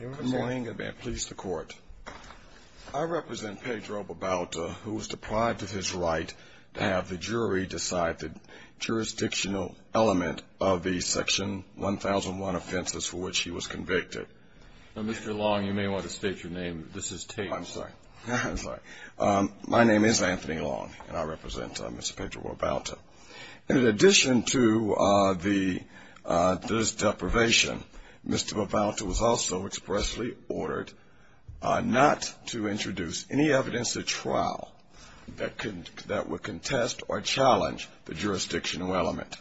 Good morning and may it please the court. I represent Pedro Babauta, who was deprived of his right to have the jury decide the jurisdictional element of the section 1001 offenses for which he was convicted. Mr. Long, you may want to state your name. This is taped. I'm sorry. My name is Anthony Long and I represent Mr. Pedro Babauta. In addition to this deprivation, Mr. Babauta was also expressly ordered not to introduce any evidence at trial that would contest or challenge the jurisdictional element.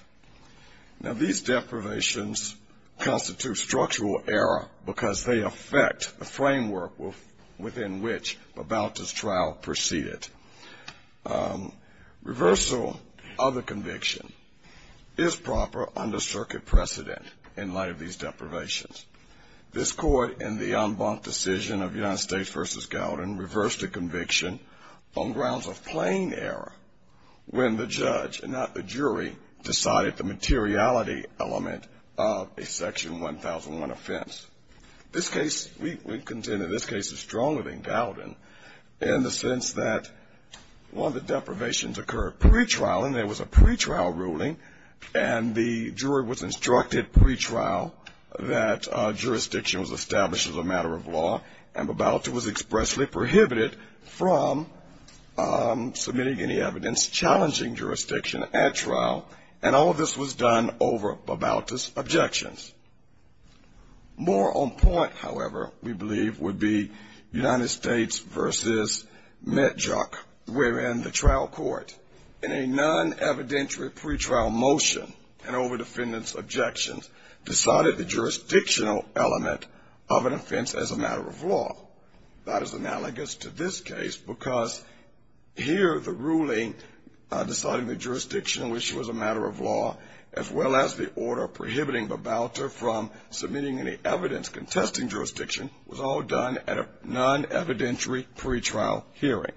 Now, these Babautas' trial proceeded. Reversal of the conviction is proper under circuit precedent in light of these deprivations. This court in the en banc decision of United States v. Gowden reversed the conviction on grounds of plain error when the judge and not the jury decided the materiality element of a section 1001 offense. This case, we contend that this case is stronger than in the sense that one of the deprivations occurred pre-trial and there was a pre-trial ruling and the jury was instructed pre-trial that jurisdiction was established as a matter of law and Babauta was expressly prohibited from submitting any evidence challenging jurisdiction at trial and all of this was done over Babauta's objections. More on point, however, we believe would be United States v. Medjuk wherein the trial court in a non-evidentiary pre-trial motion and over defendant's objections decided the jurisdictional element of an offense as a matter of law. That is analogous to this case because here the ruling deciding the jurisdictional issue as a matter of law as well as the order prohibiting Babauta from submitting any evidence contesting jurisdiction was all done at a non-evidentiary pre-trial hearing.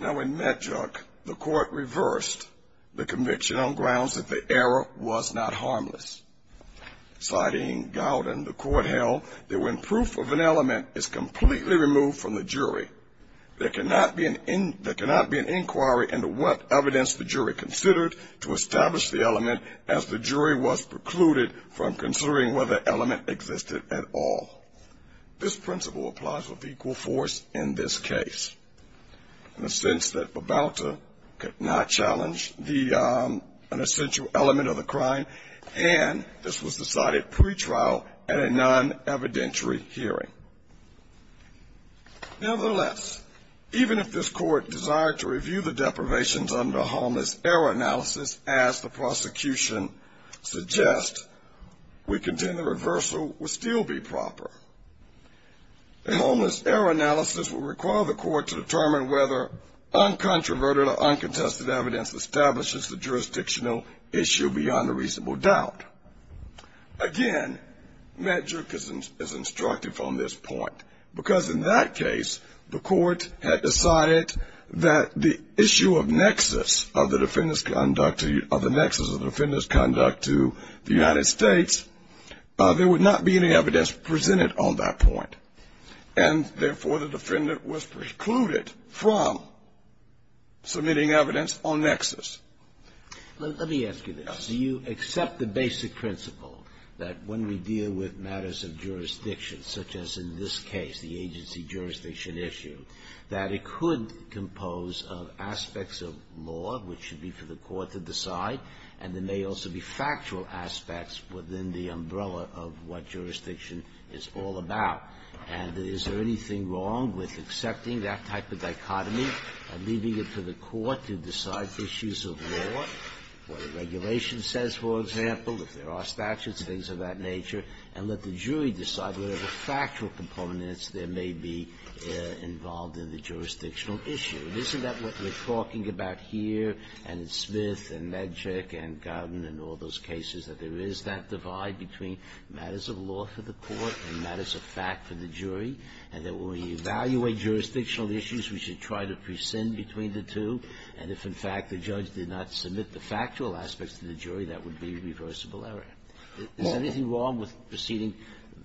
Now in Medjuk, the court reversed the conviction on grounds that the error was not harmless. Citing Gowden, the court held that when proof of an element is completely removed from the jury, there cannot be an inquiry into what evidence the jury considered to establish the element as the jury was precluded from considering whether the element existed at all. This principle applies with equal force in this case in the sense that Babauta could not challenge an essential element of the crime and this was analysis as the prosecution suggests, we contend the reversal would still be proper. Homeless error analysis would require the court to determine whether uncontroverted or uncontested evidence establishes the jurisdictional issue beyond a reasonable doubt. Again, Medjuk is instructed from this point because in that case, the court had decided that the issue of nexus of the defendant's conduct to the United States, there would not be any evidence presented on that point. And therefore, the defendant was precluded from submitting evidence on nexus. Let me ask you this. Do you accept the basic principle that when we deal with matters of jurisdiction, such as in this case, the agency jurisdiction issue, that it could compose of aspects of law which should be for the court to decide and there may also be factual aspects within the umbrella of what jurisdiction is all about? And is there anything wrong with accepting that type of dichotomy and leaving it to the court to decide issues of law, what the regulation says, for example, if there are statutes, things of that nature, and let the jury decide whatever factual components there may be involved in the jurisdictional issue? And isn't that what we're talking about here and in Smith and Medjuk and Garden and all those cases, that there is that divide between matters of law for the court and matters of fact for the jury, and that when we evaluate jurisdictional issues, we should try to prescind between the two? And if, in fact, the judge did not submit the factual aspects to the jury, that would be a reversible error? Is there anything wrong with proceeding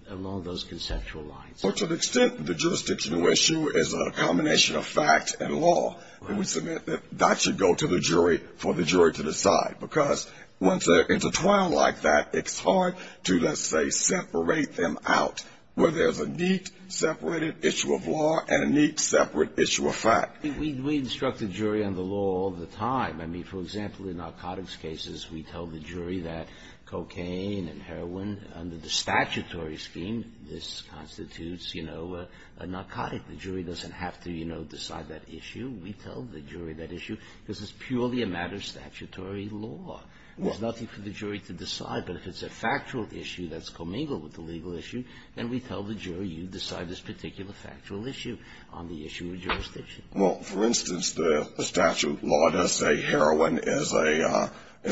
along those conceptual lines? Well, to an extent, the jurisdictional issue is a combination of fact and law, and we submit that that should go to the jury for the jury to decide, because once they're intertwined like that, it's hard to, let's say, separate them out, where there's a neat, separated issue of law and a neat, separate issue of fact. We instruct the jury on the law all the time. I mean, for example, in narcotics cases, we tell the jury that cocaine and heroin, under the statutory scheme this constitutes, you know, a narcotic. The jury doesn't have to, you know, decide that issue. We tell the jury that issue, because it's purely a matter of statutory law. There's nothing for the jury to decide, but if it's a factual issue that's commingled with the legal issue, then we tell the jury, you decide this particular factual issue on the issue of jurisdiction. Well, for instance, the statute law does say heroin is a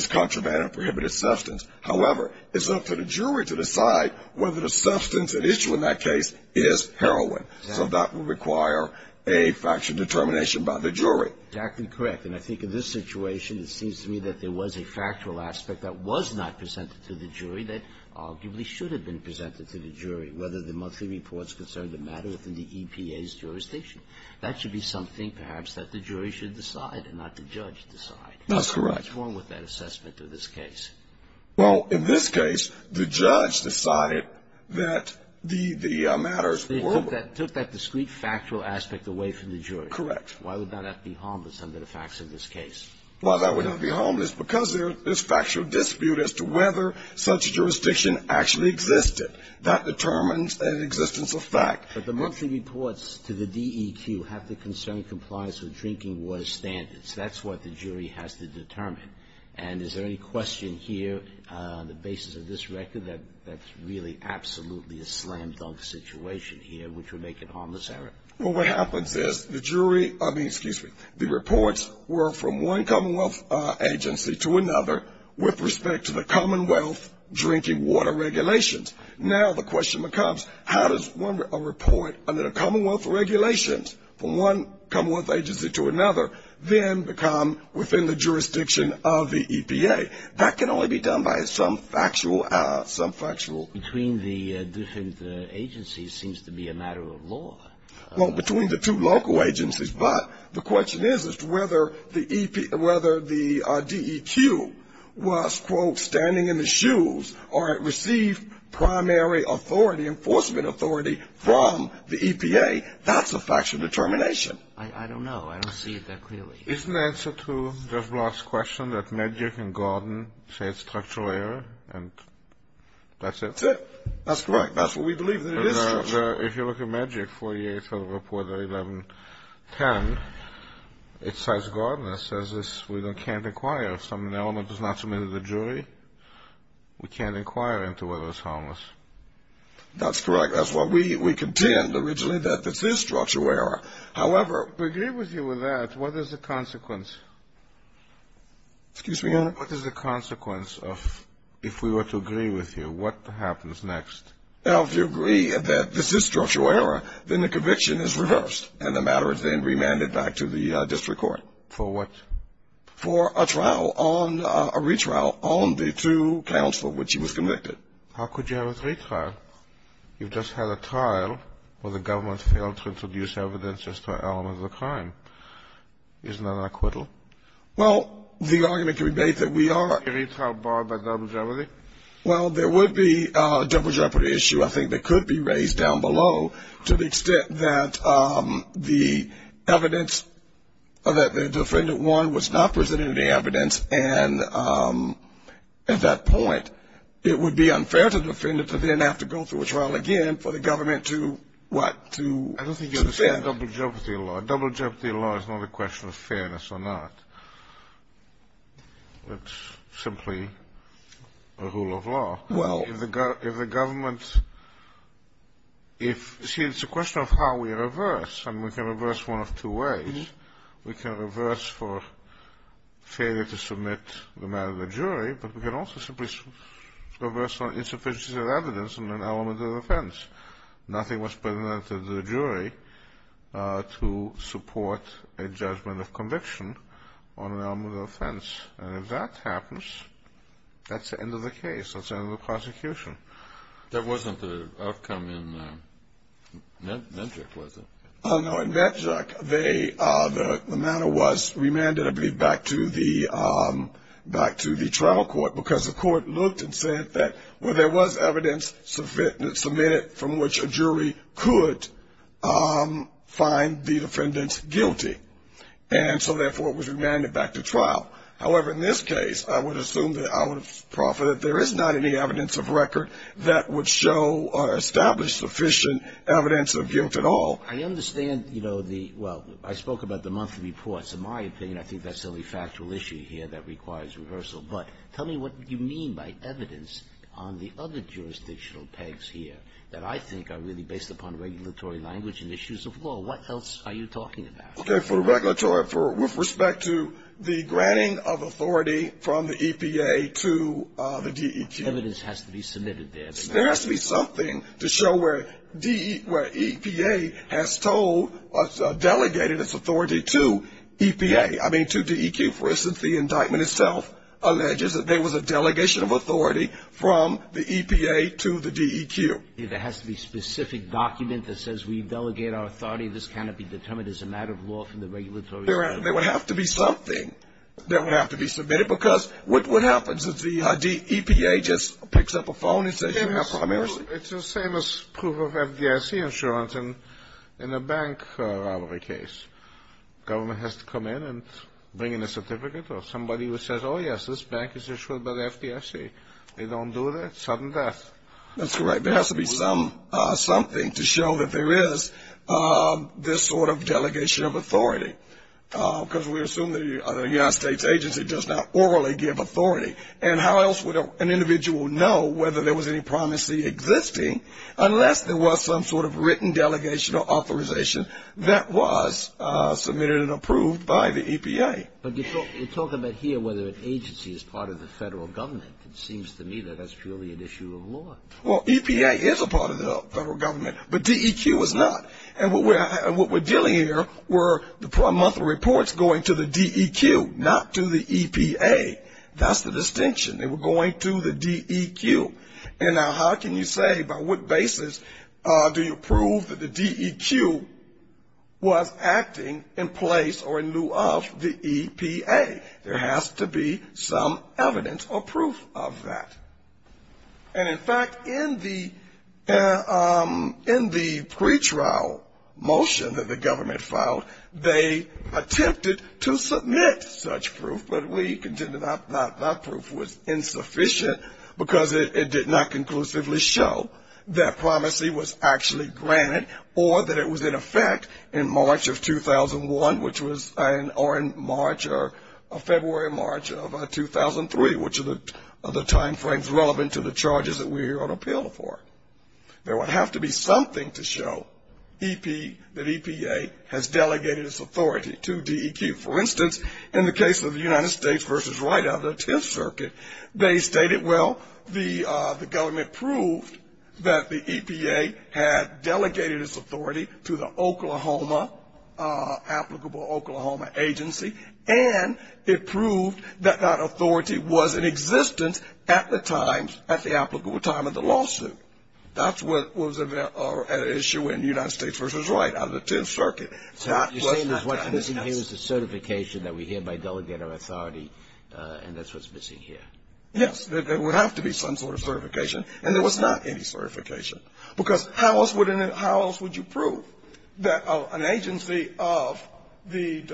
contraband and prohibited substance. However, it's up to the jury to decide whether the substance at issue in that case is heroin. Exactly. So that would require a factual determination by the jury. Exactly correct. And I think in this situation, it seems to me that there was a factual aspect that was not presented to the jury that arguably should have been presented to the jury, whether the monthly reports concerned a matter within the EPA's jurisdiction. That should be something, perhaps, that the jury should decide and not the judge decide. That's correct. What's wrong with that assessment of this case? Well, in this case, the judge decided that the matters were ---- They took that discrete factual aspect away from the jury. Correct. Why would that be harmless under the facts of this case? Well, that would not be harmless because there's factual dispute as to whether such a jurisdiction actually existed. That determines an existence of fact. But the monthly reports to the DEQ have to concern compliance with drinking water standards. That's what the jury has to determine. And is there any question here on the basis of this record that that's really absolutely a slam-dunk situation here, which would make it a harmless error? Well, what happens is the jury ---- I mean, excuse me, the reports were from one Commonwealth agency to another with respect to the Commonwealth drinking water regulations. Now the question becomes, how does a report under the Commonwealth regulations from one Commonwealth agency to another then become within the jurisdiction of the EPA? That can only be done by some factual ---- Between the different agencies seems to be a matter of law. Well, between the two local agencies. But the question is as to whether the DEQ was, quote, standing in the shoes or it received primary authority, enforcement authority from the EPA. That's a factual determination. I don't know. I don't see it that clearly. Isn't the answer to Judge Block's question that Medgar and Gordon say it's a structural error? And that's it? That's it. That's correct. That's what we believe. If you look at Medgar 48 for the report of 1110, it says, Gordon, it says we can't inquire. If some element is not submitted to the jury, we can't inquire into whether it's harmless. That's correct. That's what we contend originally that this is structural error. However, to agree with you with that, what is the consequence? Excuse me, Your Honor? What is the consequence of if we were to agree with you? What happens next? Well, if you agree that this is structural error, then the conviction is reversed, and the matter is then remanded back to the district court. For what? For a trial on a retrial on the two counsel which he was convicted. How could you have a retrial? You've just had a trial where the government failed to introduce evidence as to an element of the crime. Isn't that an acquittal? Well, the argument can be made that we are. A retrial barred by double jeopardy? Well, there would be a double jeopardy issue, I think, that could be raised down below to the extent that the evidence that the defendant won was not presented any evidence, and at that point, it would be unfair to the defendant to then have to go through a trial again for the government to what? To defend? I don't think you understand double jeopardy law. Double jeopardy law is not a question of fairness or not. It's simply a rule of law. Well. See, it's a question of how we reverse. I mean, we can reverse one of two ways. We can reverse for failure to submit the matter to the jury, but we can also simply reverse on insufficiencies of evidence and an element of offense. Nothing was presented to the jury to support a judgment of conviction on an element of offense, and if that happens, that's the end of the case. That's the end of the prosecution. That wasn't the outcome in Medjuk, was it? No. In Medjuk, the matter was remanded, I believe, back to the trial court because the court looked and said that, well, there was evidence submitted from which a jury could find the defendant guilty, and so, therefore, it was remanded back to trial. However, in this case, I would assume that I would proffer that there is not any evidence of record that would show or establish sufficient evidence of guilt at all. I understand, you know, the – well, I spoke about the monthly reports. In my opinion, I think that's the only factual issue here that requires reversal. But tell me what you mean by evidence on the other jurisdictional pegs here that I think are really based upon regulatory language and issues of law. What else are you talking about? Okay. For the regulatory, with respect to the granting of authority from the EPA to the DEQ. Evidence has to be submitted there. There has to be something to show where EPA has told – delegated its authority to EPA – I mean, to DEQ. For instance, the indictment itself alleges that there was a delegation of authority from the EPA to the DEQ. It has to be a specific document that says we delegate our authority. This cannot be determined as a matter of law from the regulatory standpoint. There would have to be something that would have to be submitted because what happens if the EPA just picks up a phone and says you have primarily – It's the same as proof of FDIC insurance. In a bank robbery case, government has to come in and bring in a certificate or somebody who says, oh, yes, this bank is insured by the FDIC. They don't do that, sudden death. That's correct. There has to be something to show that there is this sort of delegation of authority because we assume the United States agency does not orally give authority. And how else would an individual know whether there was any promise existing unless there was some sort of written delegation or authorization that was submitted and approved by the EPA? But you talk about here whether an agency is part of the federal government. It seems to me that that's purely an issue of law. Well, EPA is a part of the federal government, but DEQ is not. And what we're dealing here were the monthly reports going to the DEQ, not to the EPA. That's the distinction. They were going to the DEQ. And now how can you say by what basis do you prove that the DEQ was acting in place or in lieu of the EPA? There has to be some evidence or proof of that. And, in fact, in the pretrial motion that the government filed, they attempted to submit such proof, but we concluded that that proof was insufficient because it did not conclusively show that it was in effect in March of 2001, or in March or February or March of 2003, which are the timeframes relevant to the charges that we're here on appeal for. There would have to be something to show that EPA has delegated its authority to DEQ. For instance, in the case of the United States v. Wright out of the Tenth Circuit, they stated, well, the government proved that the EPA had delegated its authority to the Oklahoma, applicable Oklahoma agency, and it proved that that authority was in existence at the time, at the applicable time of the lawsuit. That's what was at issue in the United States v. Wright out of the Tenth Circuit. So what you're saying is what's missing here is the certification that we get by delegating authority, and that's what's missing here. Yes. There would have to be some sort of certification, and there was not any certification. Because how else would you prove that an agency of the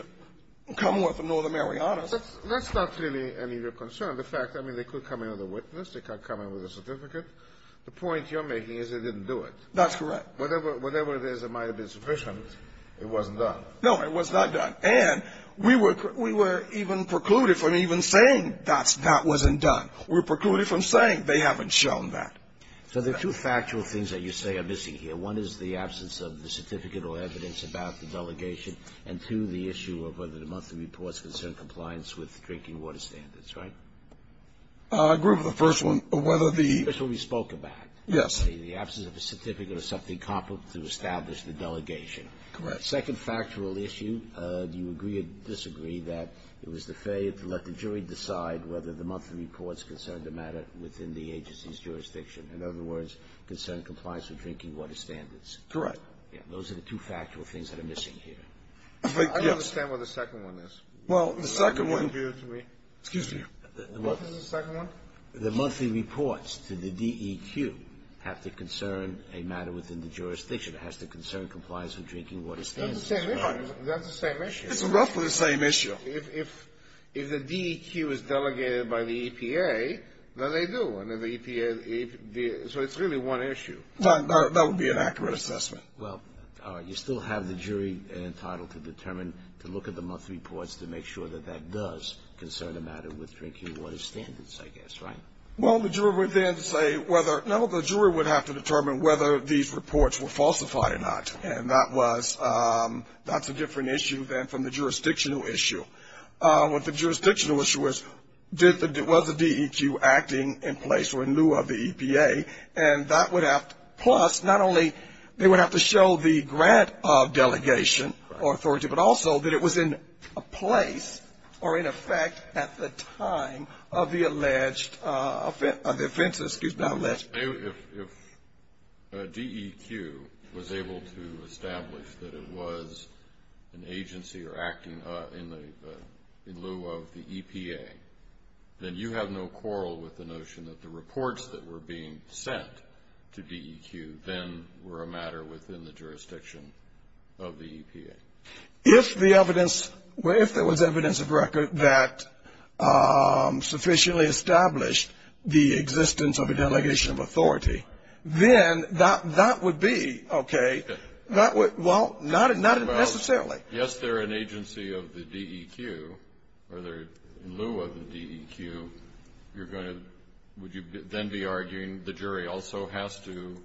Commonwealth of Northern Marianas was in effect? That's not really any of your concern. The fact, I mean, they could come in with a witness. They could come in with a certificate. The point you're making is they didn't do it. That's correct. Whatever it is, it might have been sufficient. It wasn't done. No, it was not done. And we were even precluded from even saying that that wasn't done. We were precluded from saying they haven't shown that. So there are two factual things that you say are missing here. One is the absence of the certificate or evidence about the delegation, and, two, the issue of whether the monthly reports concern compliance with drinking water standards, right? I agree with the first one, whether the ---- That's what we spoke about. Yes. The absence of a certificate or something comparable to establish the delegation. Correct. Second factual issue, do you agree or disagree that it was the failure to let the jury decide whether the monthly reports concerned a matter within the agency's jurisdiction? In other words, concern compliance with drinking water standards? Correct. Those are the two factual things that are missing here. I don't understand what the second one is. Well, the second one ---- Excuse me. What was the second one? The monthly reports to the DEQ have to concern a matter within the jurisdiction. It has to concern compliance with drinking water standards. That's the same issue. It's roughly the same issue. If the DEQ is delegated by the EPA, then they do. So it's really one issue. That would be an accurate assessment. Well, you still have the jury entitled to determine, to look at the monthly reports to make sure that that does concern a matter with drinking water standards, I guess. Right? Well, the jury would then say whether ---- And that's a different issue than from the jurisdictional issue. The jurisdictional issue was, was the DEQ acting in place or in lieu of the EPA? And that would have to ---- Plus, not only they would have to show the grant of delegation or authority, but also that it was in place or in effect at the time of the alleged offenses. Excuse me. If DEQ was able to establish that it was an agency or acting in lieu of the EPA, then you have no quarrel with the notion that the reports that were being sent to DEQ then were a matter within the jurisdiction of the EPA? If the evidence, if there was evidence of record that sufficiently established the existence of a delegation of authority, then that would be, okay, that would ---- Well, not necessarily. Yes, they're an agency of the DEQ, or they're in lieu of the DEQ. You're going to ---- Would you then be arguing the jury also has to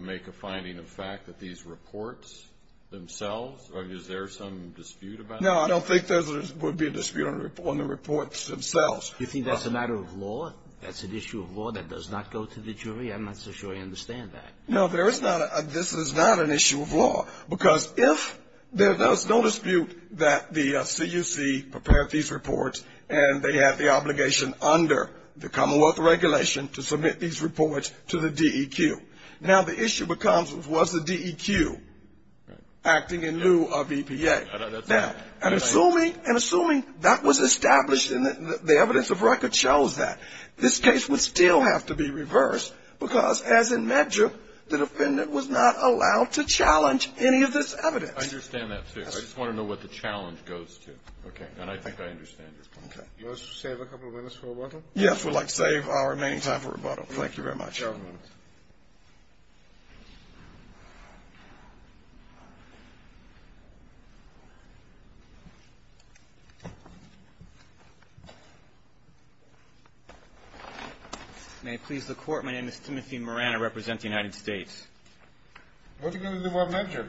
make a finding of fact that these reports themselves, or is there some dispute about that? No, I don't think there would be a dispute on the reports themselves. You think that's a matter of law? That's an issue of law that does not go to the jury? I'm not so sure I understand that. No, there is not a ---- this is not an issue of law, because if there's no dispute that the CUC prepared these reports and they have the obligation under the Commonwealth regulation to submit these reports to the DEQ. Now, the issue becomes, was the DEQ acting in lieu of EPA? Okay. And assuming that was established and the evidence of record shows that, this case would still have to be reversed because, as in Medgar, the defendant was not allowed to challenge any of this evidence. I understand that, too. I just want to know what the challenge goes to. Okay. And I think I understand your point. Okay. Let's save a couple minutes for rebuttal. Yes, we'd like to save our remaining time for rebuttal. Thank you very much. Thank you, Your Honor. May it please the Court, my name is Timothy Moran. I represent the United States. What are you going to do about Medgar?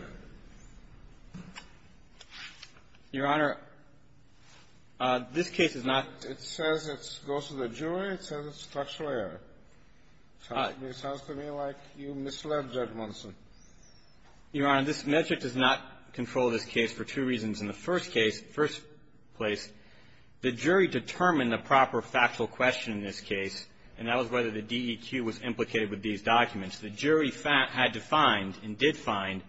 Your Honor, this case is not ---- It says it goes to the jury. It says it's structural error. It sounds to me like you misled Judge Munson. Your Honor, this metric does not control this case for two reasons. In the first case, first place, the jury determined the proper factual question in this case, and that was whether the DEQ was implicated with these documents. The jury had to find and did find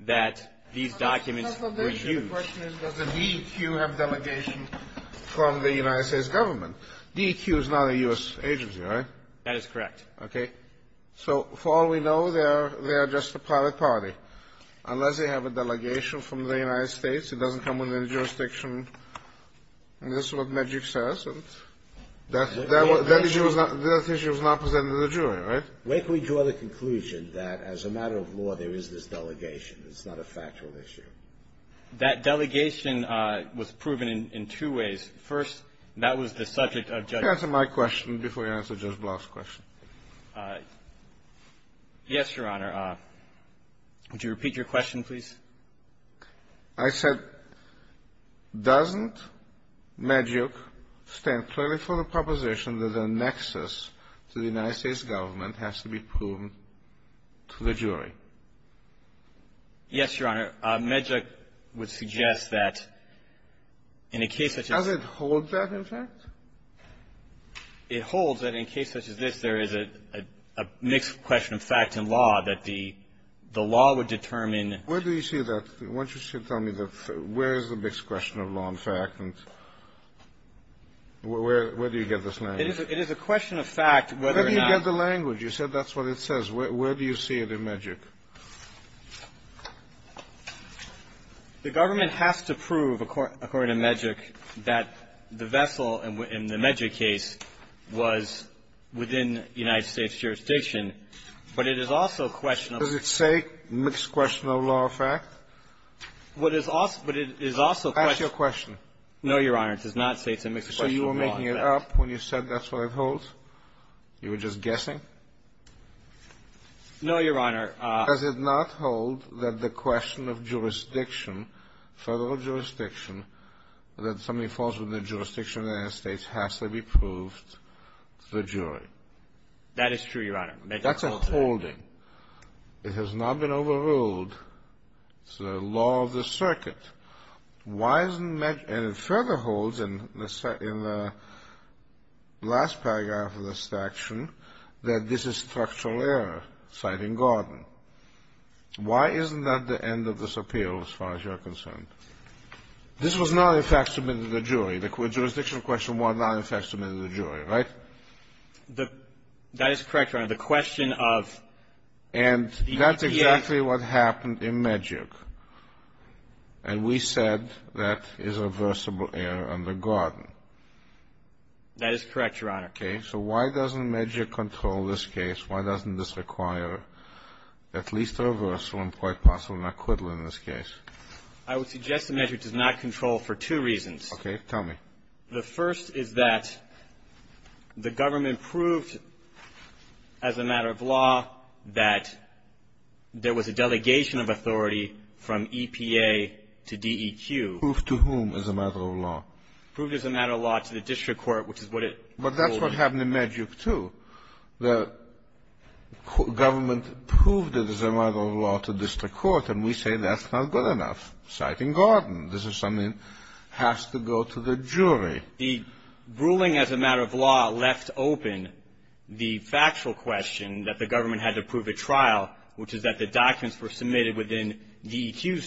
that these documents were used. The question is, does the DEQ have delegation from the United States government? DEQ is not a U.S. agency, right? That is correct. Okay. So for all we know, they are just a private party. Unless they have a delegation from the United States, it doesn't come within the jurisdiction. And this is what Medgar says. That issue was not presented to the jury, right? Where can we draw the conclusion that as a matter of law, there is this delegation? It's not a factual issue. That delegation was proven in two ways. First, that was the subject of Judge Block's question. Answer my question before you answer Judge Block's question. Yes, Your Honor. Would you repeat your question, please? I said, doesn't Medgar stand clearly for the proposition that the nexus to the United States government has to be proven to the jury? Yes, Your Honor. Medgar would suggest that in a case such as this one. Does it hold that, in fact? It holds that in a case such as this, there is a mixed question of fact and law that the law would determine. Where do you see that? Why don't you tell me where is the mixed question of law and fact, and where do you get this language? It is a question of fact, whether or not you get the language. Where do you see it in Medgar? The government has to prove, according to Medgar, that the vessel in the Medgar case was within the United States jurisdiction, but it is also a question of fact. Does it say mixed question of law or fact? What is also – but it is also a question of fact. Ask your question. No, Your Honor. It does not say it's a mixed question of law or fact. So you were making it up when you said that's what it holds? You were just guessing? No, Your Honor. Does it not hold that the question of jurisdiction, federal jurisdiction, that somebody falls within the jurisdiction of the United States has to be proved to the jury? That is true, Your Honor. Medgar holds that. That's a holding. It has not been overruled. It's the law of the circuit. Why isn't Medgar – and it further holds in the – in the last paragraph of the action that this is structural error, citing Gordon. Why isn't that the end of this appeal, as far as you're concerned? This was not, in fact, submitted to the jury. The jurisdiction question was not, in fact, submitted to the jury, right? That is correct, Your Honor. The question of – And that's exactly what happened in Medgar. And we said that is reversible error under Gordon. That is correct, Your Honor. Okay. So why doesn't Medgar control this case? Why doesn't this require at least a reversal and quite possibly an acquittal in this case? I would suggest that Medgar does not control for two reasons. Okay. Tell me. The first is that the government proved as a matter of law that there was a delegation Proved to whom as a matter of law? Proved as a matter of law to the district court, which is what it – But that's what happened in Medgar, too. The government proved it as a matter of law to district court, and we say that's not good enough, citing Gordon. This is something that has to go to the jury. The ruling as a matter of law left open the factual question that the government had to prove at trial, which is that the documents were submitted within DEQ's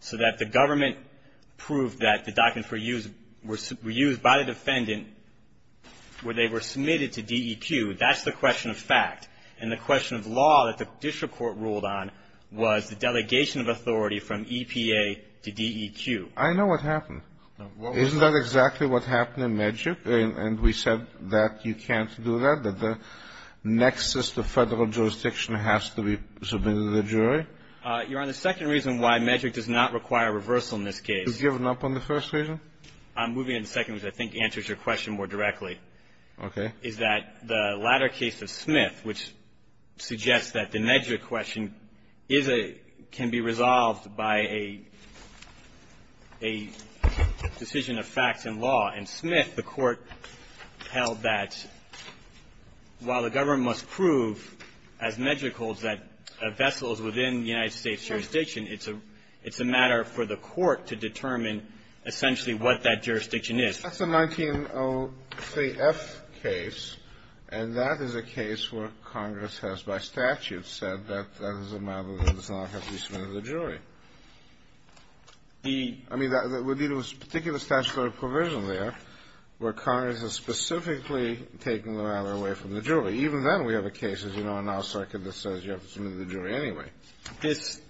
So that the government proved that the documents were used by the defendant where they were submitted to DEQ. That's the question of fact. And the question of law that the district court ruled on was the delegation of authority from EPA to DEQ. I know what happened. Isn't that exactly what happened in Medgar? And we said that you can't do that, that the nexus to federal jurisdiction has to be submitted to the jury? Your Honor, the second reason why Medgar does not require reversal in this case – Is given up on the first reason? I'm moving to the second, which I think answers your question more directly. Okay. Is that the latter case of Smith, which suggests that the Medgar question is a – can be resolved by a decision of facts and law. In Smith, the Court held that while the government must prove, as Medgar holds, that a vessel is within the United States jurisdiction, it's a matter for the court to determine essentially what that jurisdiction is. That's a 1903F case, and that is a case where Congress has, by statute, said that that is a matter that does not have to be submitted to the jury. The – I mean, there was a particular statutory provision there where Congress has specifically taken the matter away from the jury. Even then, we have a case, as you know, in our circuit that says you have to submit it to the jury anyway. This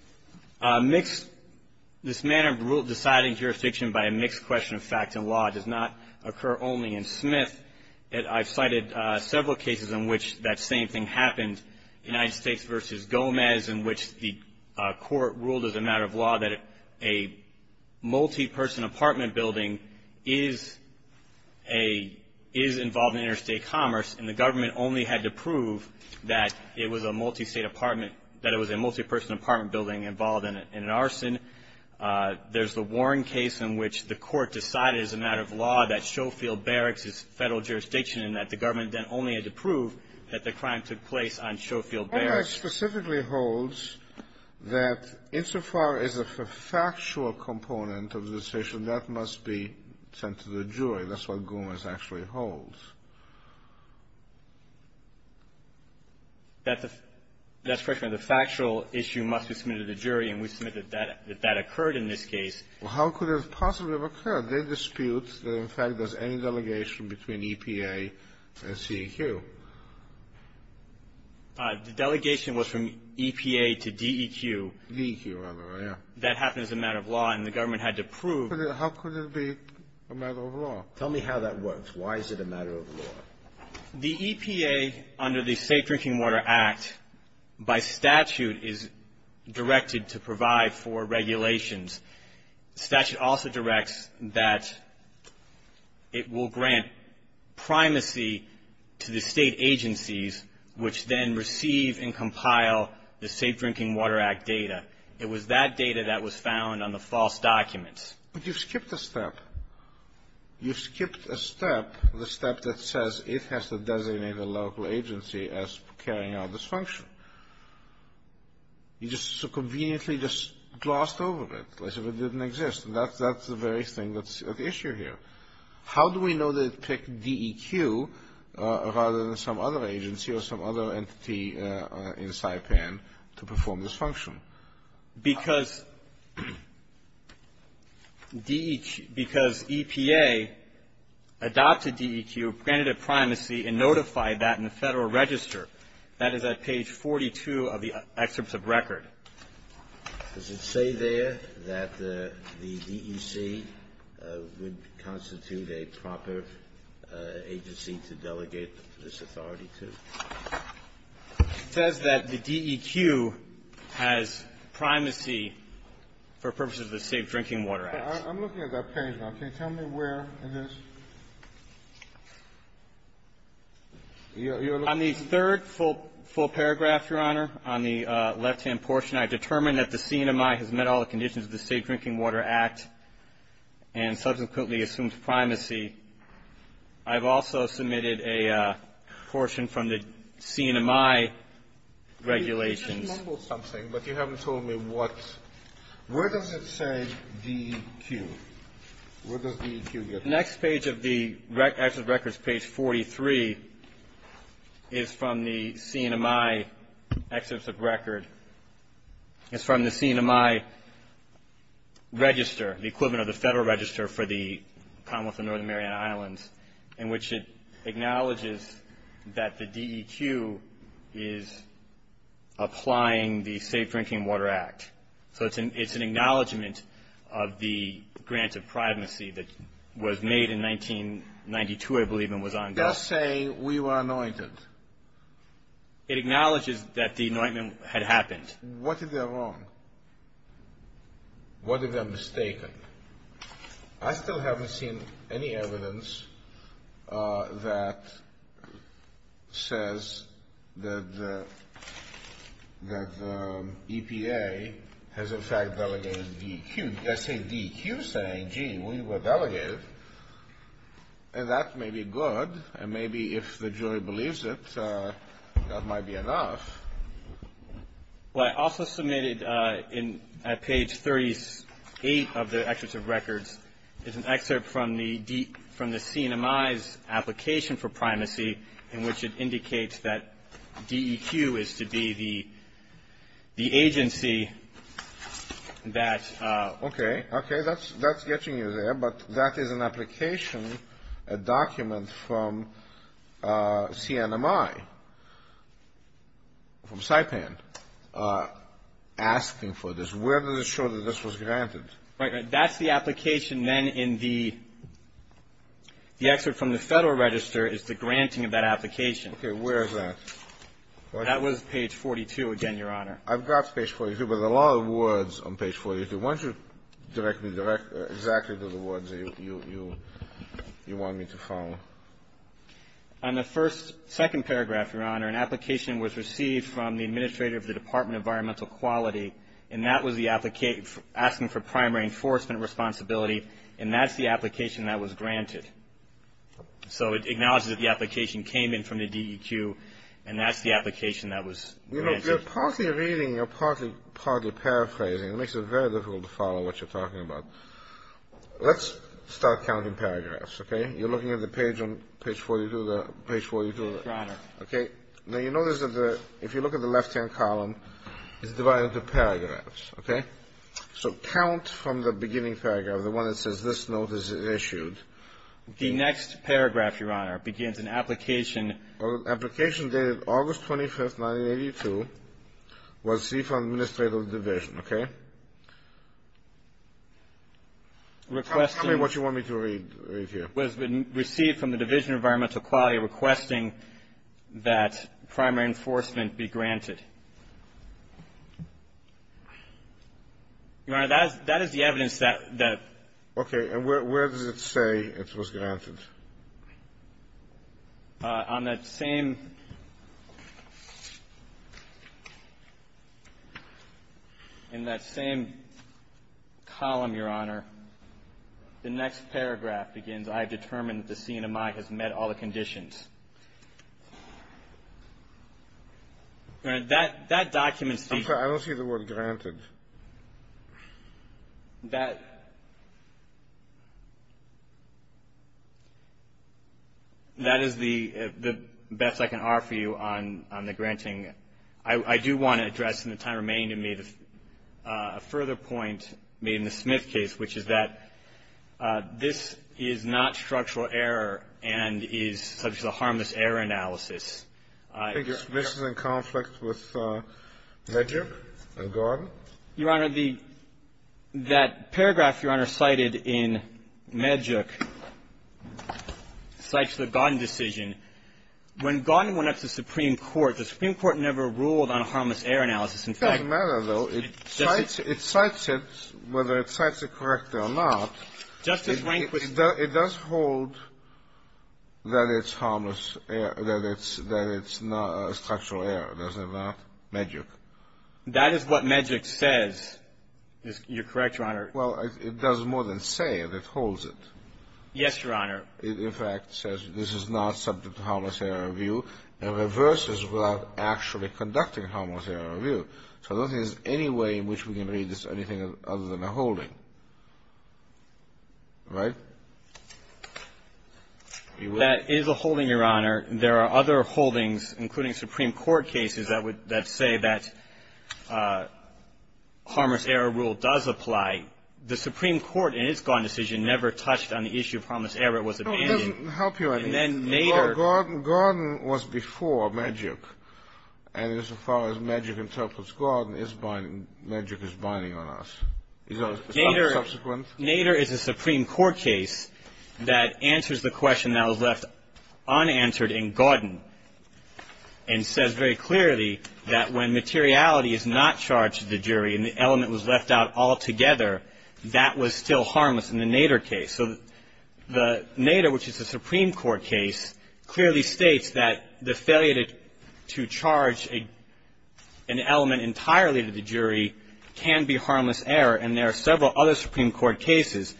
mixed – this manner of deciding jurisdiction by a mixed question of facts and law does not occur only in Smith. I've cited several cases in which that same thing happened, United States v. Gomez, in which the court ruled as a matter of law that a multi-person apartment building is a – is involved in interstate commerce, and the government only had to prove that it was a multi-state apartment – that it was a multi-person apartment building involved in an arson. There's the Warren case in which the court decided as a matter of law that Schofield Barracks is Federal jurisdiction and that the government then only had to prove that the crime took place on Schofield Barracks. The statute specifically holds that insofar as a factual component of the decision, that must be sent to the jury. That's what Gomez actually holds. That's correct, Your Honor. The factual issue must be submitted to the jury, and we submit that that occurred in this case. Well, how could it possibly have occurred? They dispute that, in fact, there's any delegation between EPA and CEQ. The delegation was from EPA to DEQ. DEQ, rather, yeah. That happened as a matter of law, and the government had to prove. How could it be a matter of law? Tell me how that works. Why is it a matter of law? The EPA, under the State Drinking Water Act, by statute, is directed to provide for regulations. The statute also directs that it will grant primacy to the State agencies, which then receive and compile the Safe Drinking Water Act data. It was that data that was found on the false documents. But you skipped a step. You skipped a step, the step that says it has to designate a local agency as carrying out this function. You just so conveniently just glossed over it as if it didn't exist. And that's the very thing that's at issue here. How do we know that it picked DEQ rather than some other agency or some other entity in Saipan to perform this function? Because EPA adopted DEQ, granted it primacy, and notified that in the Federal Register. That is at page 42 of the excerpts of record. Does it say there that the DEC would constitute a proper agency to delegate this authority to? It says that the DEQ has primacy for purposes of the State Drinking Water Act. I'm looking at that page now. Can you tell me where it is? On the third full paragraph, Your Honor, on the left-hand portion, I determined that the CNMI has met all the conditions of the State Drinking Water Act and subsequently assumed primacy. I've also submitted a portion from the CNMI regulations. You just mumbled something, but you haven't told me what. Where does it say DEQ? Where does DEQ get that? The next page of the Excerpt of Records, page 43, is from the CNMI Register, the equivalent of the Federal Register for the Commonwealth of Northern Mariana Islands, in which it acknowledges that the DEQ is applying the State Drinking Water Act. So it's an acknowledgment of the grant of primacy that was made in 1992, I believe, and was ongoing. Does it say we were anointed? It acknowledges that the anointment had happened. What if they're wrong? What if they're mistaken? I still haven't seen any evidence that says that the EPA has, in fact, delegated DEQ. It does say DEQ saying, gee, we were delegated, and that may be good, and maybe if the jury believes it, that might be enough. What I also submitted at page 38 of the Excerpt of Records is an excerpt from the CNMI's application for primacy, in which it indicates that DEQ is to be the agency that... from Saipan, asking for this. Where does it show that this was granted? Right. That's the application. Then in the excerpt from the Federal Register is the granting of that application. Okay. Where is that? That was page 42 again, Your Honor. I've got page 42, but there are a lot of words on page 42. Why don't you direct me exactly to the words you want me to follow? On the second paragraph, Your Honor, an application was received from the administrator of the Department of Environmental Quality, and that was asking for primary enforcement responsibility, and that's the application that was granted. So it acknowledges that the application came in from the DEQ, and that's the application that was granted. You know, you're partly reading, you're partly paraphrasing. It makes it very difficult to follow what you're talking about. Let's start counting paragraphs, okay? You're looking at the page on page 42. Your Honor. Okay. Now, you notice that if you look at the left-hand column, it's divided into paragraphs, okay? So count from the beginning paragraph, the one that says this note is issued. The next paragraph, Your Honor, begins an application. Application dated August 25, 1982, was received from the administrator of the division, okay? Tell me what you want me to read here. Was received from the Division of Environmental Quality requesting that primary enforcement be granted. Your Honor, that is the evidence that the ---- Okay. And where does it say it was granted? On that same ---- in that same column, Your Honor, the next paragraph begins, I have determined that the CNMI has met all the conditions. All right. That document states ---- I'm sorry. I don't see the word granted. That is the best I can offer you on the granting. I do want to address in the time remaining to me a further point made in the Smith case, which is that this is not structural error and is such a harmless error analysis. I think it's missing in conflict with Medjuk and Gordon. Your Honor, the ---- that paragraph, Your Honor, cited in Medjuk cites the Gordon decision. When Gordon went up to the Supreme Court, the Supreme Court never ruled on a harmless error analysis. In fact ---- It doesn't matter, though. It cites ---- it cites it whether it cites it correctly or not. Justice Rehnquist ---- It does hold that it's harmless, that it's not a structural error, does it not, Medjuk? That is what Medjuk says. You're correct, Your Honor. Well, it does more than say it. It holds it. Yes, Your Honor. In fact, it says this is not subject to harmless error review and reverses without actually conducting harmless error review. So I don't think there's any way in which we can read this as anything other than a holding. Right? That is a holding, Your Honor. There are other holdings, including Supreme Court cases, that would ---- that say that harmless error rule does apply. The Supreme Court in its Gordon decision never touched on the issue of harmless error. It was abandoned. It doesn't help you any. And then later ---- Well, Gordon was before Medjuk. And as far as Medjuk interprets Gordon, Medjuk is binding on us. Is there a subsequent? Nader is a Supreme Court case that answers the question that was left unanswered in Gordon and says very clearly that when materiality is not charged to the jury and the element was left out altogether, that was still harmless in the Nader case. So the Nader, which is a Supreme Court case, clearly states that the failure to charge an element entirely to the jury can be harmless error. And there are several other Supreme Court cases,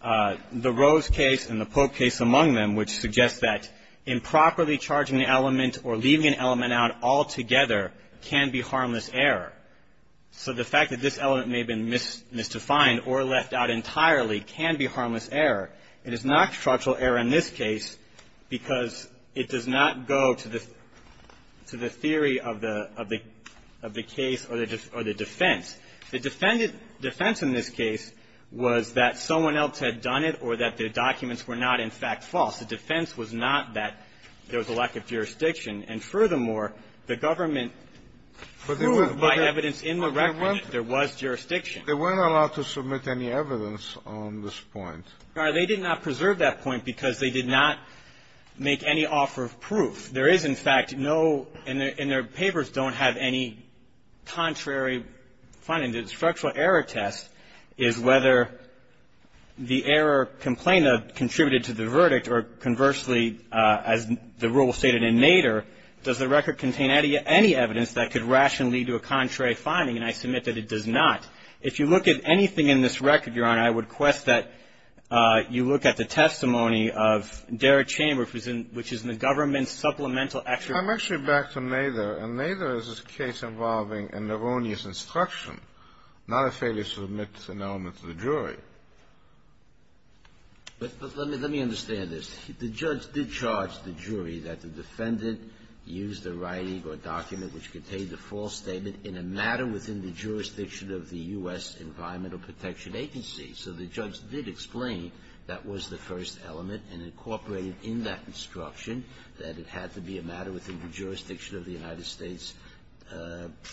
the Rose case and the Pope case among them, which suggests that improperly charging the element or leaving an element out altogether can be harmless error. So the fact that this element may have been misdefined or left out entirely can be harmless error. It is not structural error in this case because it does not go to the theory of the case or the defense. The defense in this case was that someone else had done it or that the documents were not, in fact, false. The defense was not that there was a lack of jurisdiction. And furthermore, the government proved by evidence in the record that there was jurisdiction. They weren't allowed to submit any evidence on this point. Now, they did not preserve that point because they did not make any offer of proof. There is, in fact, no – and their papers don't have any contrary finding. The structural error test is whether the error complained of contributed to the verdict or conversely, as the rule stated in Nader, does the record contain any evidence that could rationally lead to a contrary finding. And I submit that it does not. If you look at anything in this record, Your Honor, I would quest that you look at the testimony of Derek Chamber, which is in the government's supplemental extract. I'm actually back to Nader. And Nader is a case involving an erroneous instruction, not a failure to submit an element to the jury. But let me understand this. The judge did charge the jury that the defendant used a writing or document which protection agency. So the judge did explain that was the first element and incorporated in that instruction that it had to be a matter within the jurisdiction of the United States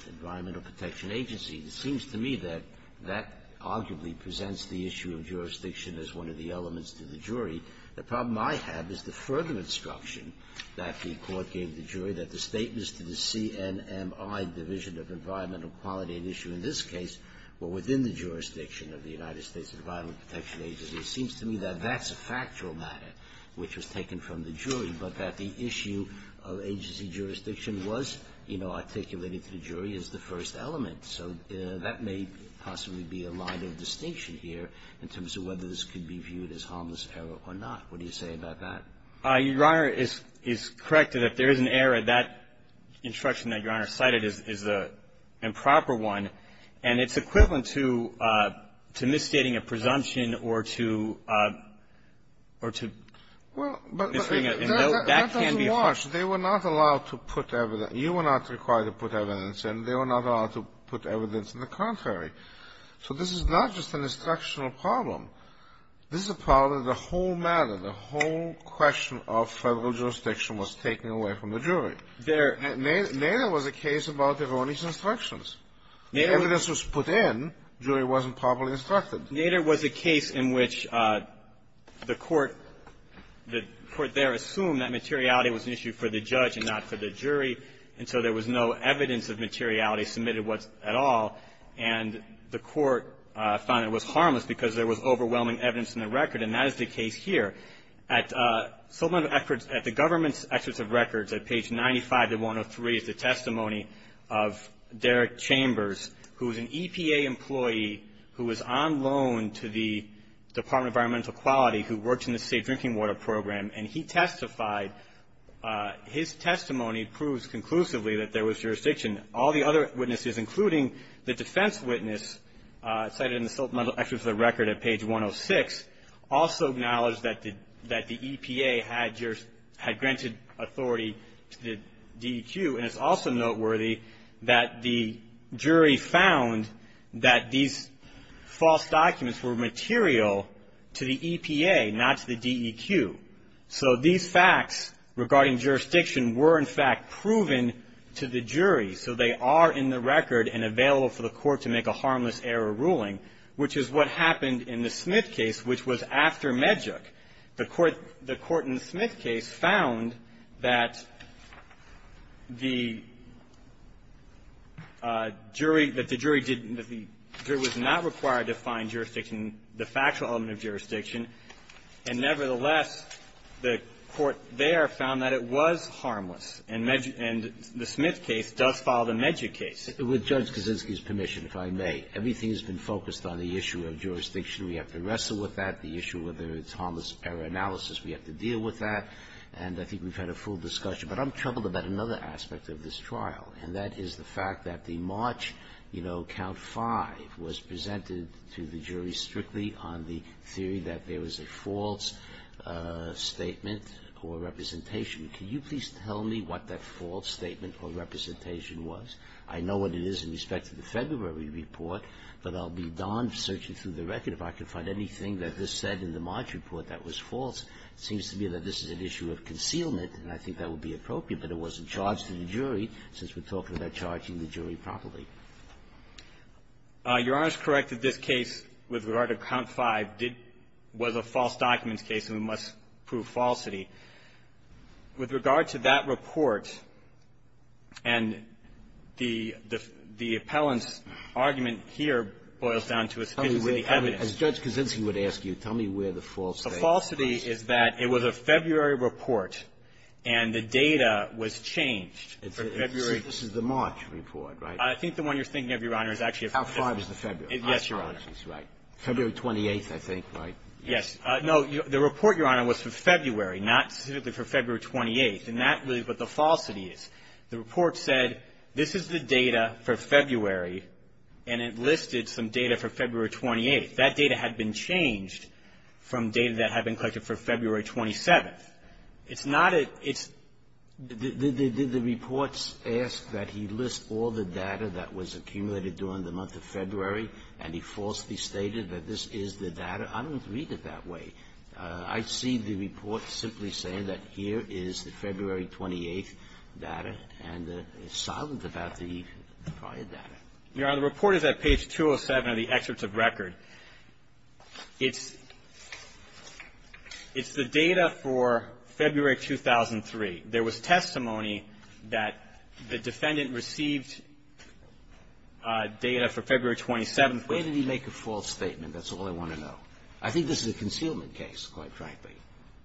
Environmental Protection Agency. It seems to me that that arguably presents the issue of jurisdiction as one of the elements to the jury. The problem I have is the further instruction that the court gave the jury that the jurisdiction of the United States Environmental Protection Agency. It seems to me that that's a factual matter which was taken from the jury, but that the issue of agency jurisdiction was, you know, articulated to the jury as the first element. So that may possibly be a line of distinction here in terms of whether this could be viewed as harmless error or not. What do you say about that? Your Honor is correct that if there is an error, that instruction that Your Honor cited is the improper one. And it's equivalent to misstating a presumption or to misstating a note. That can be a problem. Well, but that doesn't watch. They were not allowed to put evidence. You were not required to put evidence, and they were not allowed to put evidence in the contrary. So this is not just an instructional problem. This is a problem that the whole matter, the whole question of federal jurisdiction was taken away from the jury. There was a case about erroneous instructions. The evidence was put in. The jury wasn't properly instructed. There was a case in which the Court, the Court there assumed that materiality was an issue for the judge and not for the jury, and so there was no evidence of materiality submitted at all. And the Court found it was harmless because there was overwhelming evidence in the record, and that is the case here. At the government's experts of records at page 95 to 103 is the testimony of Derek Chambers, who is an EPA employee who is on loan to the Department of Environmental Quality who works in the state drinking water program, and he testified. His testimony proves conclusively that there was jurisdiction. All the other witnesses, including the defense witness cited in the supplemental experts of the record at page 106, also acknowledge that the EPA had granted authority to the DEQ, and it's also noteworthy that the jury found that these false documents were material to the EPA, not to the DEQ. So these facts regarding jurisdiction were, in fact, proven to the jury, so they are in the record and available for the Court to make a harmless error ruling, which is what happened in the Smith case, which was after Medjuk. The court the court in the Smith case found that the jury, that the jury didn't the jury was not required to find jurisdiction, the factual element of jurisdiction, and, nevertheless, the court there found that it was harmless. And Medjuk and the Smith case does follow the Medjuk case. And with Judge Kaczynski's permission, if I may, everything has been focused on the issue of jurisdiction. We have to wrestle with that. The issue of the harmless error analysis, we have to deal with that. And I think we've had a full discussion. But I'm troubled about another aspect of this trial, and that is the fact that the March, you know, count five was presented to the jury strictly on the theory that there was a false statement or representation. Can you please tell me what that false statement or representation was? I know what it is in respect to the February report, but I'll be darned searching through the record if I can find anything that this said in the March report that was false. It seems to me that this is an issue of concealment, and I think that would be appropriate, but it wasn't charged to the jury since we're talking about charging the jury properly. Your Honor is correct that this case with regard to count five did was a false documents case, and we must prove falsity. With regard to that report, and the appellant's report boils down to a specific evidence. As Judge Kaczynski would ask you, tell me where the false statement is. The falsity is that it was a February report, and the data was changed for February. So this is the March report, right? I think the one you're thinking of, Your Honor, is actually a false statement. How far is the February? Yes, Your Honor. February 28th, I think, right? Yes. No. The report, Your Honor, was for February, not specifically for February 28th. And that really is what the falsity is. The report said this is the data for February, and it listed some data for February 28th. That data had been changed from data that had been collected for February 27th. It's not a — it's — Did the reports ask that he list all the data that was accumulated during the month of February, and he falsely stated that this is the data? I don't read it that way. I see the report simply saying that here is the February 28th data, and it's silent about the prior data. Your Honor, the report is at page 207 of the excerpts of record. It's the data for February 2003. There was testimony that the defendant received data for February 27th. Where did he make a false statement? That's all I want to know. I think this is a concealment case, quite frankly.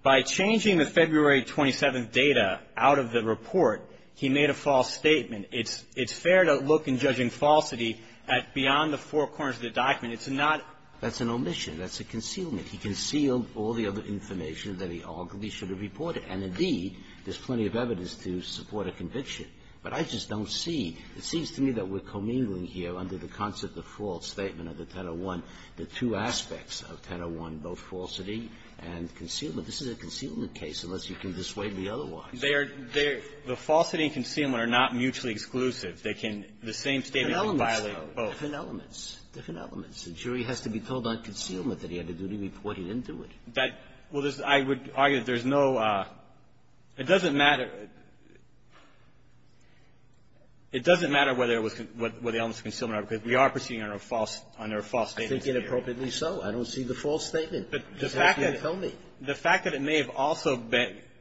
By changing the February 27th data out of the report, he made a false statement. It's — it's fair to look in judging falsity at — beyond the four corners of the document. It's not — That's an omission. That's a concealment. He concealed all the other information that he arguably should have reported. And, indeed, there's plenty of evidence to support a conviction. But I just don't see — it seems to me that we're commingling here under the concept of the false statement of the 1001, the two aspects of 1001, both falsity and concealment. This is a concealment case, unless you can dissuade me otherwise. They are — the falsity and concealment are not mutually exclusive. They can — the same statement can violate both. Different elements, though, different elements, different elements. The jury has to be told on concealment that he had to do the report. He didn't do it. That — well, I would argue that there's no — it doesn't matter — it doesn't matter whether it was — where the elements of concealment are, because we are proceeding under a false — under a false statement. I think inappropriately so. I don't see the false statement. But the fact that — Tell me. The fact that it may have also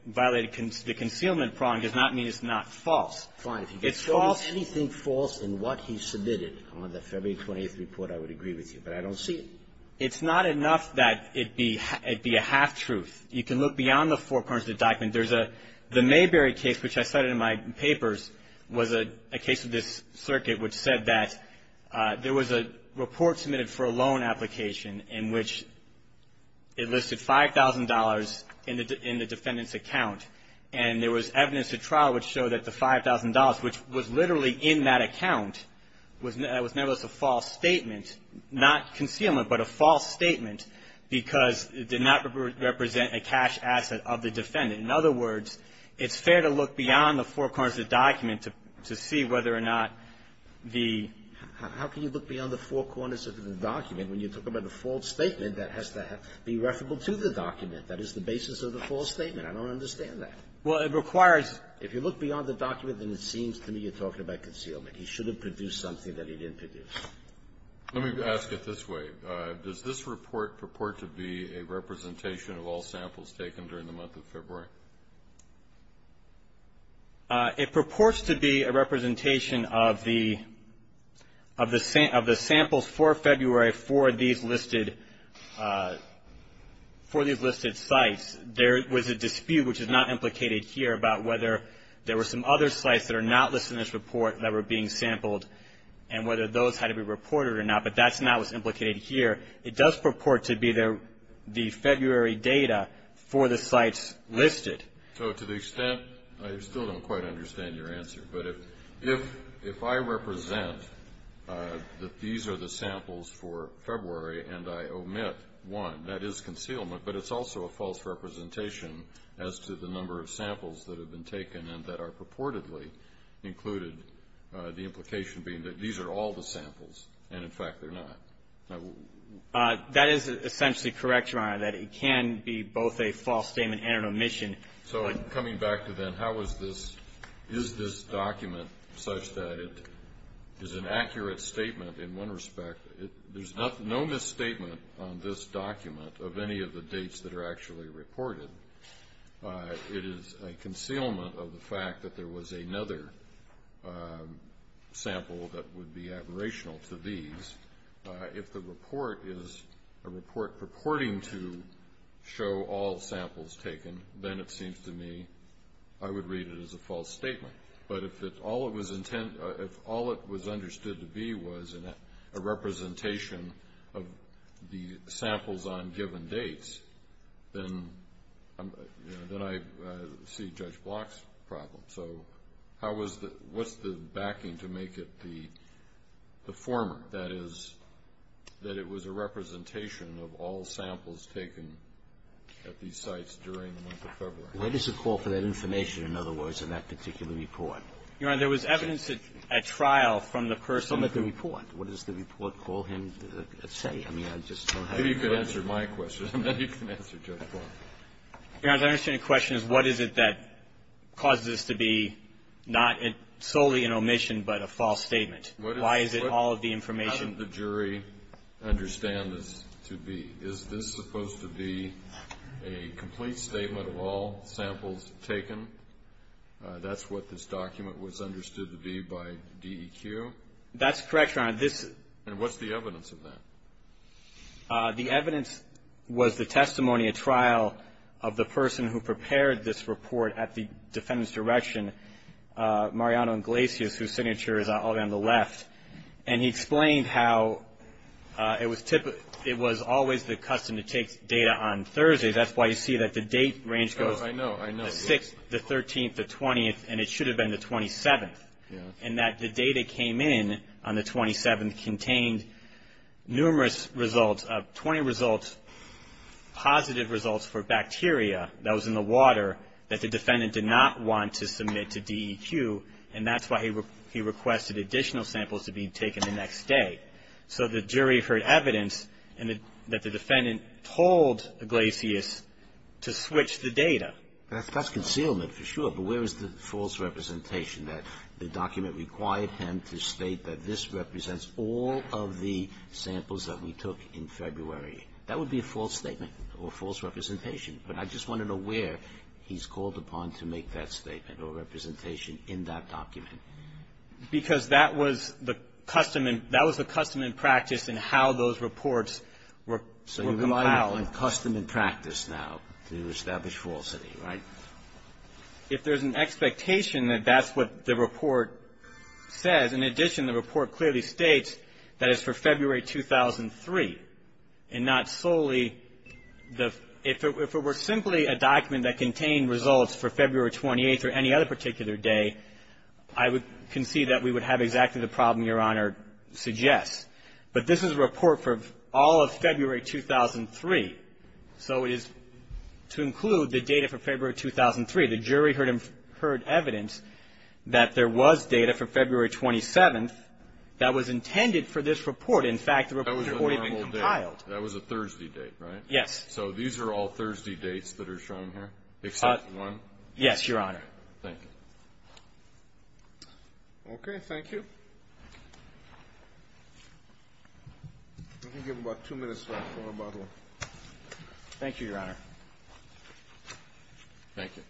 violated the concealment problem does not mean it's not false. It's false. Fine. If you can tell me anything false in what he submitted on the February 20th report, I would agree with you. But I don't see it. It's not enough that it be — it be a half-truth. You can look beyond the four corners of the document. There's a — the Mayberry case, which I cited in my papers, was a case of this circuit which said that there was a report submitted for a loan application in which it listed $5,000 in the defendant's account. And there was evidence at trial which showed that the $5,000, which was literally in that account, was nevertheless a false statement. Not concealment, but a false statement because it did not represent a cash asset of the defendant. In other words, it's fair to look beyond the four corners of the document to see whether or not the — How can you look beyond the four corners of the document when you're talking about a false statement that has to be referable to the document? That is the basis of the false statement. I don't understand that. Well, it requires — If you look beyond the document, then it seems to me you're talking about concealment. He shouldn't have produced something that he didn't produce. Let me ask it this way. Does this report purport to be a representation of all samples taken during the month of February? It purports to be a representation of the samples for February for these listed sites. There was a dispute, which is not implicated here, about whether there were some other sites that are not listed in this report that were being sampled and whether those had to be reported or not, but that's not what's implicated here. It does purport to be the February data for the sites listed. So to the extent — I still don't quite understand your answer, but if I represent that these are the samples for February and I omit one, that is concealment, but it's also a false representation as to the number of samples that have been taken and that are purportedly included, the implication being that these are all the samples and, in fact, they're not. That is essentially correct, Your Honor, that it can be both a false statement and an omission. So coming back to then, how is this document such that it is an accurate statement in one respect? There's no misstatement on this document of any of the dates that are actually reported. It is a concealment of the fact that there was another sample that would be admirational to these. If the report is a report purporting to show all samples taken, then it seems to me I would read it as a false statement. But if all it was understood to be was a representation of the samples on given dates, then I see Judge Block's problem. So what's the backing to make it the former, that is, that it was a representation of all samples taken at these sites during the month of February? Where does it fall for that information, in other words, in that particular report? Your Honor, there was evidence at trial from the person at the report. What does the report call him to say? I mean, I just don't have the answer. You could answer my question, and then you can answer Judge Block. Your Honor, I understand the question is what is it that causes this to be not solely an omission, but a false statement? Why is it all of the information? How did the jury understand this to be? Is this supposed to be a complete statement of all samples taken? That's what this document was understood to be by DEQ? That's correct, Your Honor. And what's the evidence of that? The evidence was the testimony at trial of the person who prepared this report at the defendant's direction, Mariano Iglesias, whose signature is all down the left. And he explained how it was always the custom to take data on Thursdays. That's why you see that the date range goes the 6th, the 13th, the 20th, and it should have been the 27th, and that the data came in on the 27th contained numerous results, 20 results, positive results for bacteria that was in the water that the defendant did not want to submit to DEQ, and that's why he requested additional samples to be taken the next day. So the jury heard evidence that the defendant told Iglesias to switch the data. That's concealment for sure, but where is the false representation that the document required him to state that this represents all of the samples that we took in February? That would be a false statement or a false representation, but I just want to know where he's called upon to make that statement or representation in that document. Because that was the custom and practice in how those reports were compiled. It's all in custom and practice now to establish falsity, right? If there's an expectation that that's what the report says, in addition, the report clearly states that it's for February 2003 and not solely the ‑‑ if it were simply a document that contained results for February 28th or any other particular day, I would concede that we would have exactly the problem Your Honor suggests. But this is a report for all of February 2003, so it is to include the data for February 2003. The jury heard evidence that there was data for February 27th that was intended for this report. In fact, the report had been compiled. That was a Thursday date, right? Yes. So these are all Thursday dates that are shown here, except one? Yes, Your Honor. Thank you. Okay. Thank you. I'm going to give him about two minutes left for rebuttal. Thank you, Your Honor. Thank you.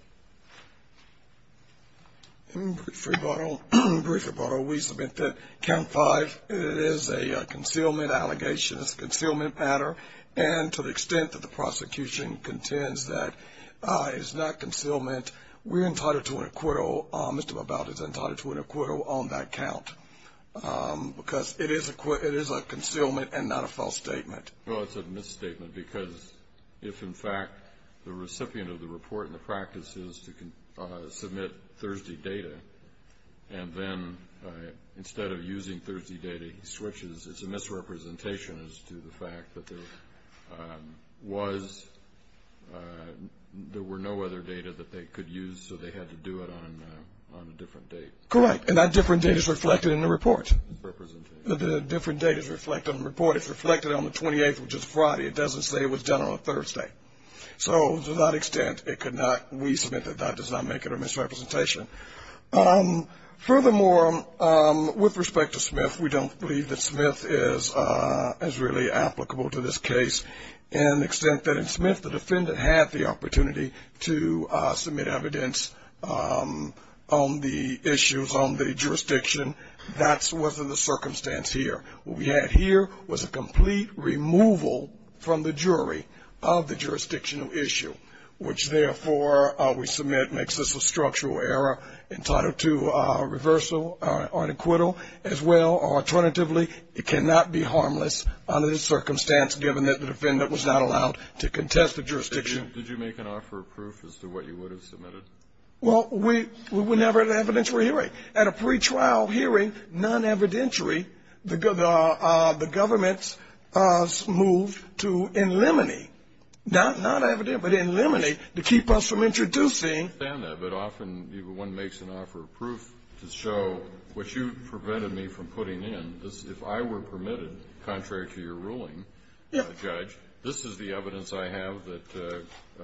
In brief rebuttal, we submit that Count 5 is a concealment allegation. It's a concealment matter. And to the extent that the prosecution contends that it's not concealment, we're entitled to an acquittal on that count because it is a concealment and not a false statement. Well, it's a misstatement because if, in fact, the recipient of the report in the practice is to submit Thursday data and then instead of using Thursday data, he switches, it's a misrepresentation as to the fact that there was no other data that they could use, so they had to do it on a different date. Correct. And that different date is reflected in the report. The different date is reflected in the report. It's reflected on the 28th, which is Friday. It doesn't say it was done on a Thursday. So to that extent, we submit that that does not make it a misrepresentation. Furthermore, with respect to Smith, we don't believe that Smith is really applicable to this case, in the extent that in Smith the defendant had the opportunity to submit evidence on the issues on the jurisdiction. That wasn't the circumstance here. What we had here was a complete removal from the jury of the jurisdictional issue, which, therefore, we submit makes this a structural error entitled to reversal or an acquittal. As well, alternatively, it cannot be harmless under this circumstance, given that the defendant was not allowed to contest the jurisdiction. Did you make an offer of proof as to what you would have submitted? Well, we never had an evidentiary hearing. At a pretrial hearing, non-evidentiary, the government moved to in limine, not evident, but in limine to keep us from introducing. I understand that. But often one makes an offer of proof to show what you prevented me from putting in. If I were permitted, contrary to your ruling, Judge, this is the evidence I have that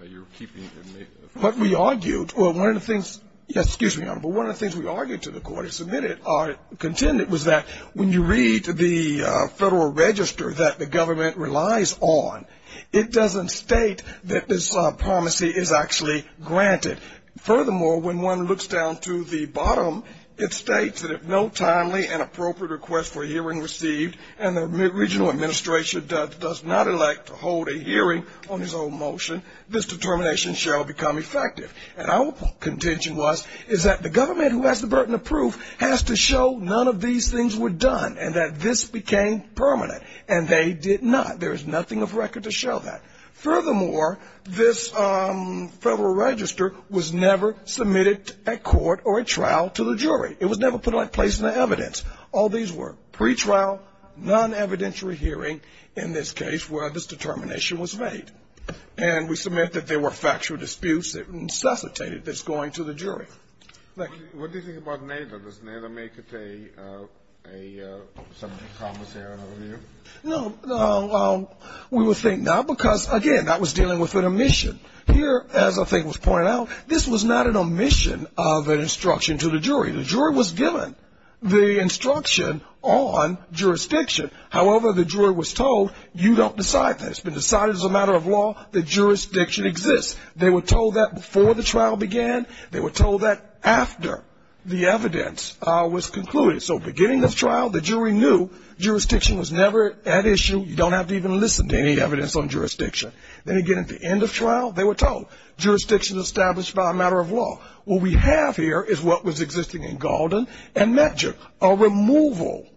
you're keeping from me. What we argued, or one of the things, yes, excuse me, Your Honor, but one of the things we argued to the court and submitted or contended was that when you read the Federal Register that the government relies on, it doesn't state that this promisee is actually granted. Furthermore, when one looks down to the bottom, it states that if no timely and appropriate request for hearing received and the regional administration does not elect to hold a hearing on his own motion, this determination shall become effective. And our contention was is that the government, who has the burden of proof, has to show none of these things were done and that this became permanent. And they did not. There is nothing of record to show that. Furthermore, this Federal Register was never submitted at court or at trial to the jury. It was never put in place as evidence. All these were pretrial, non-evidentiary hearing in this case where this determination was made. And we submit that there were factual disputes that necessitated this going to the jury. Thank you. What do you think about NAIDA? Does NAIDA make it a subject of promise here? No, we would think not because, again, that was dealing with an omission. Here, as I think was pointed out, this was not an omission of an instruction to the jury. The jury was given the instruction on jurisdiction. However, the jury was told, you don't decide that. It's been decided as a matter of law that jurisdiction exists. They were told that before the trial began. They were told that after the evidence was concluded. So beginning of trial, the jury knew jurisdiction was never at issue. You don't have to even listen to any evidence on jurisdiction. Then again, at the end of trial, they were told jurisdiction is established by a matter of law. What we have here is what was existing in Gaulden and Medgar, a removal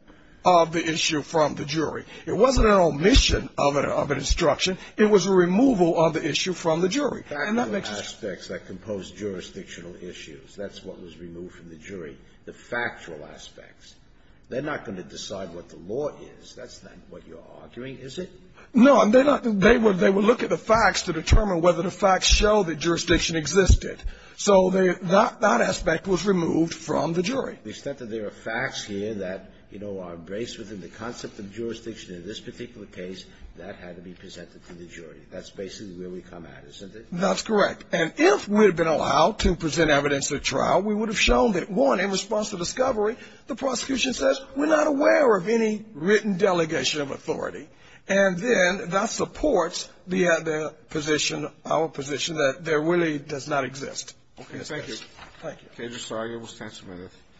of the issue from the jury. It wasn't an omission of an instruction. It was a removal of the issue from the jury. The factual aspects that compose jurisdictional issues, that's what was removed from the jury. The factual aspects. They're not going to decide what the law is. That's not what you're arguing, is it? No. They would look at the facts to determine whether the facts show that jurisdiction existed. So that aspect was removed from the jury. To the extent that there are facts here that, you know, are embraced within the concept of jurisdiction in this particular case, that had to be presented to the jury. That's basically where we come at, isn't it? That's correct. And if we had been allowed to present evidence at trial, we would have shown that, one, in response to discovery, the prosecution says, we're not aware of any written delegation of authority. And then that supports the other position, our position, that there really does not exist. Okay. Thank you.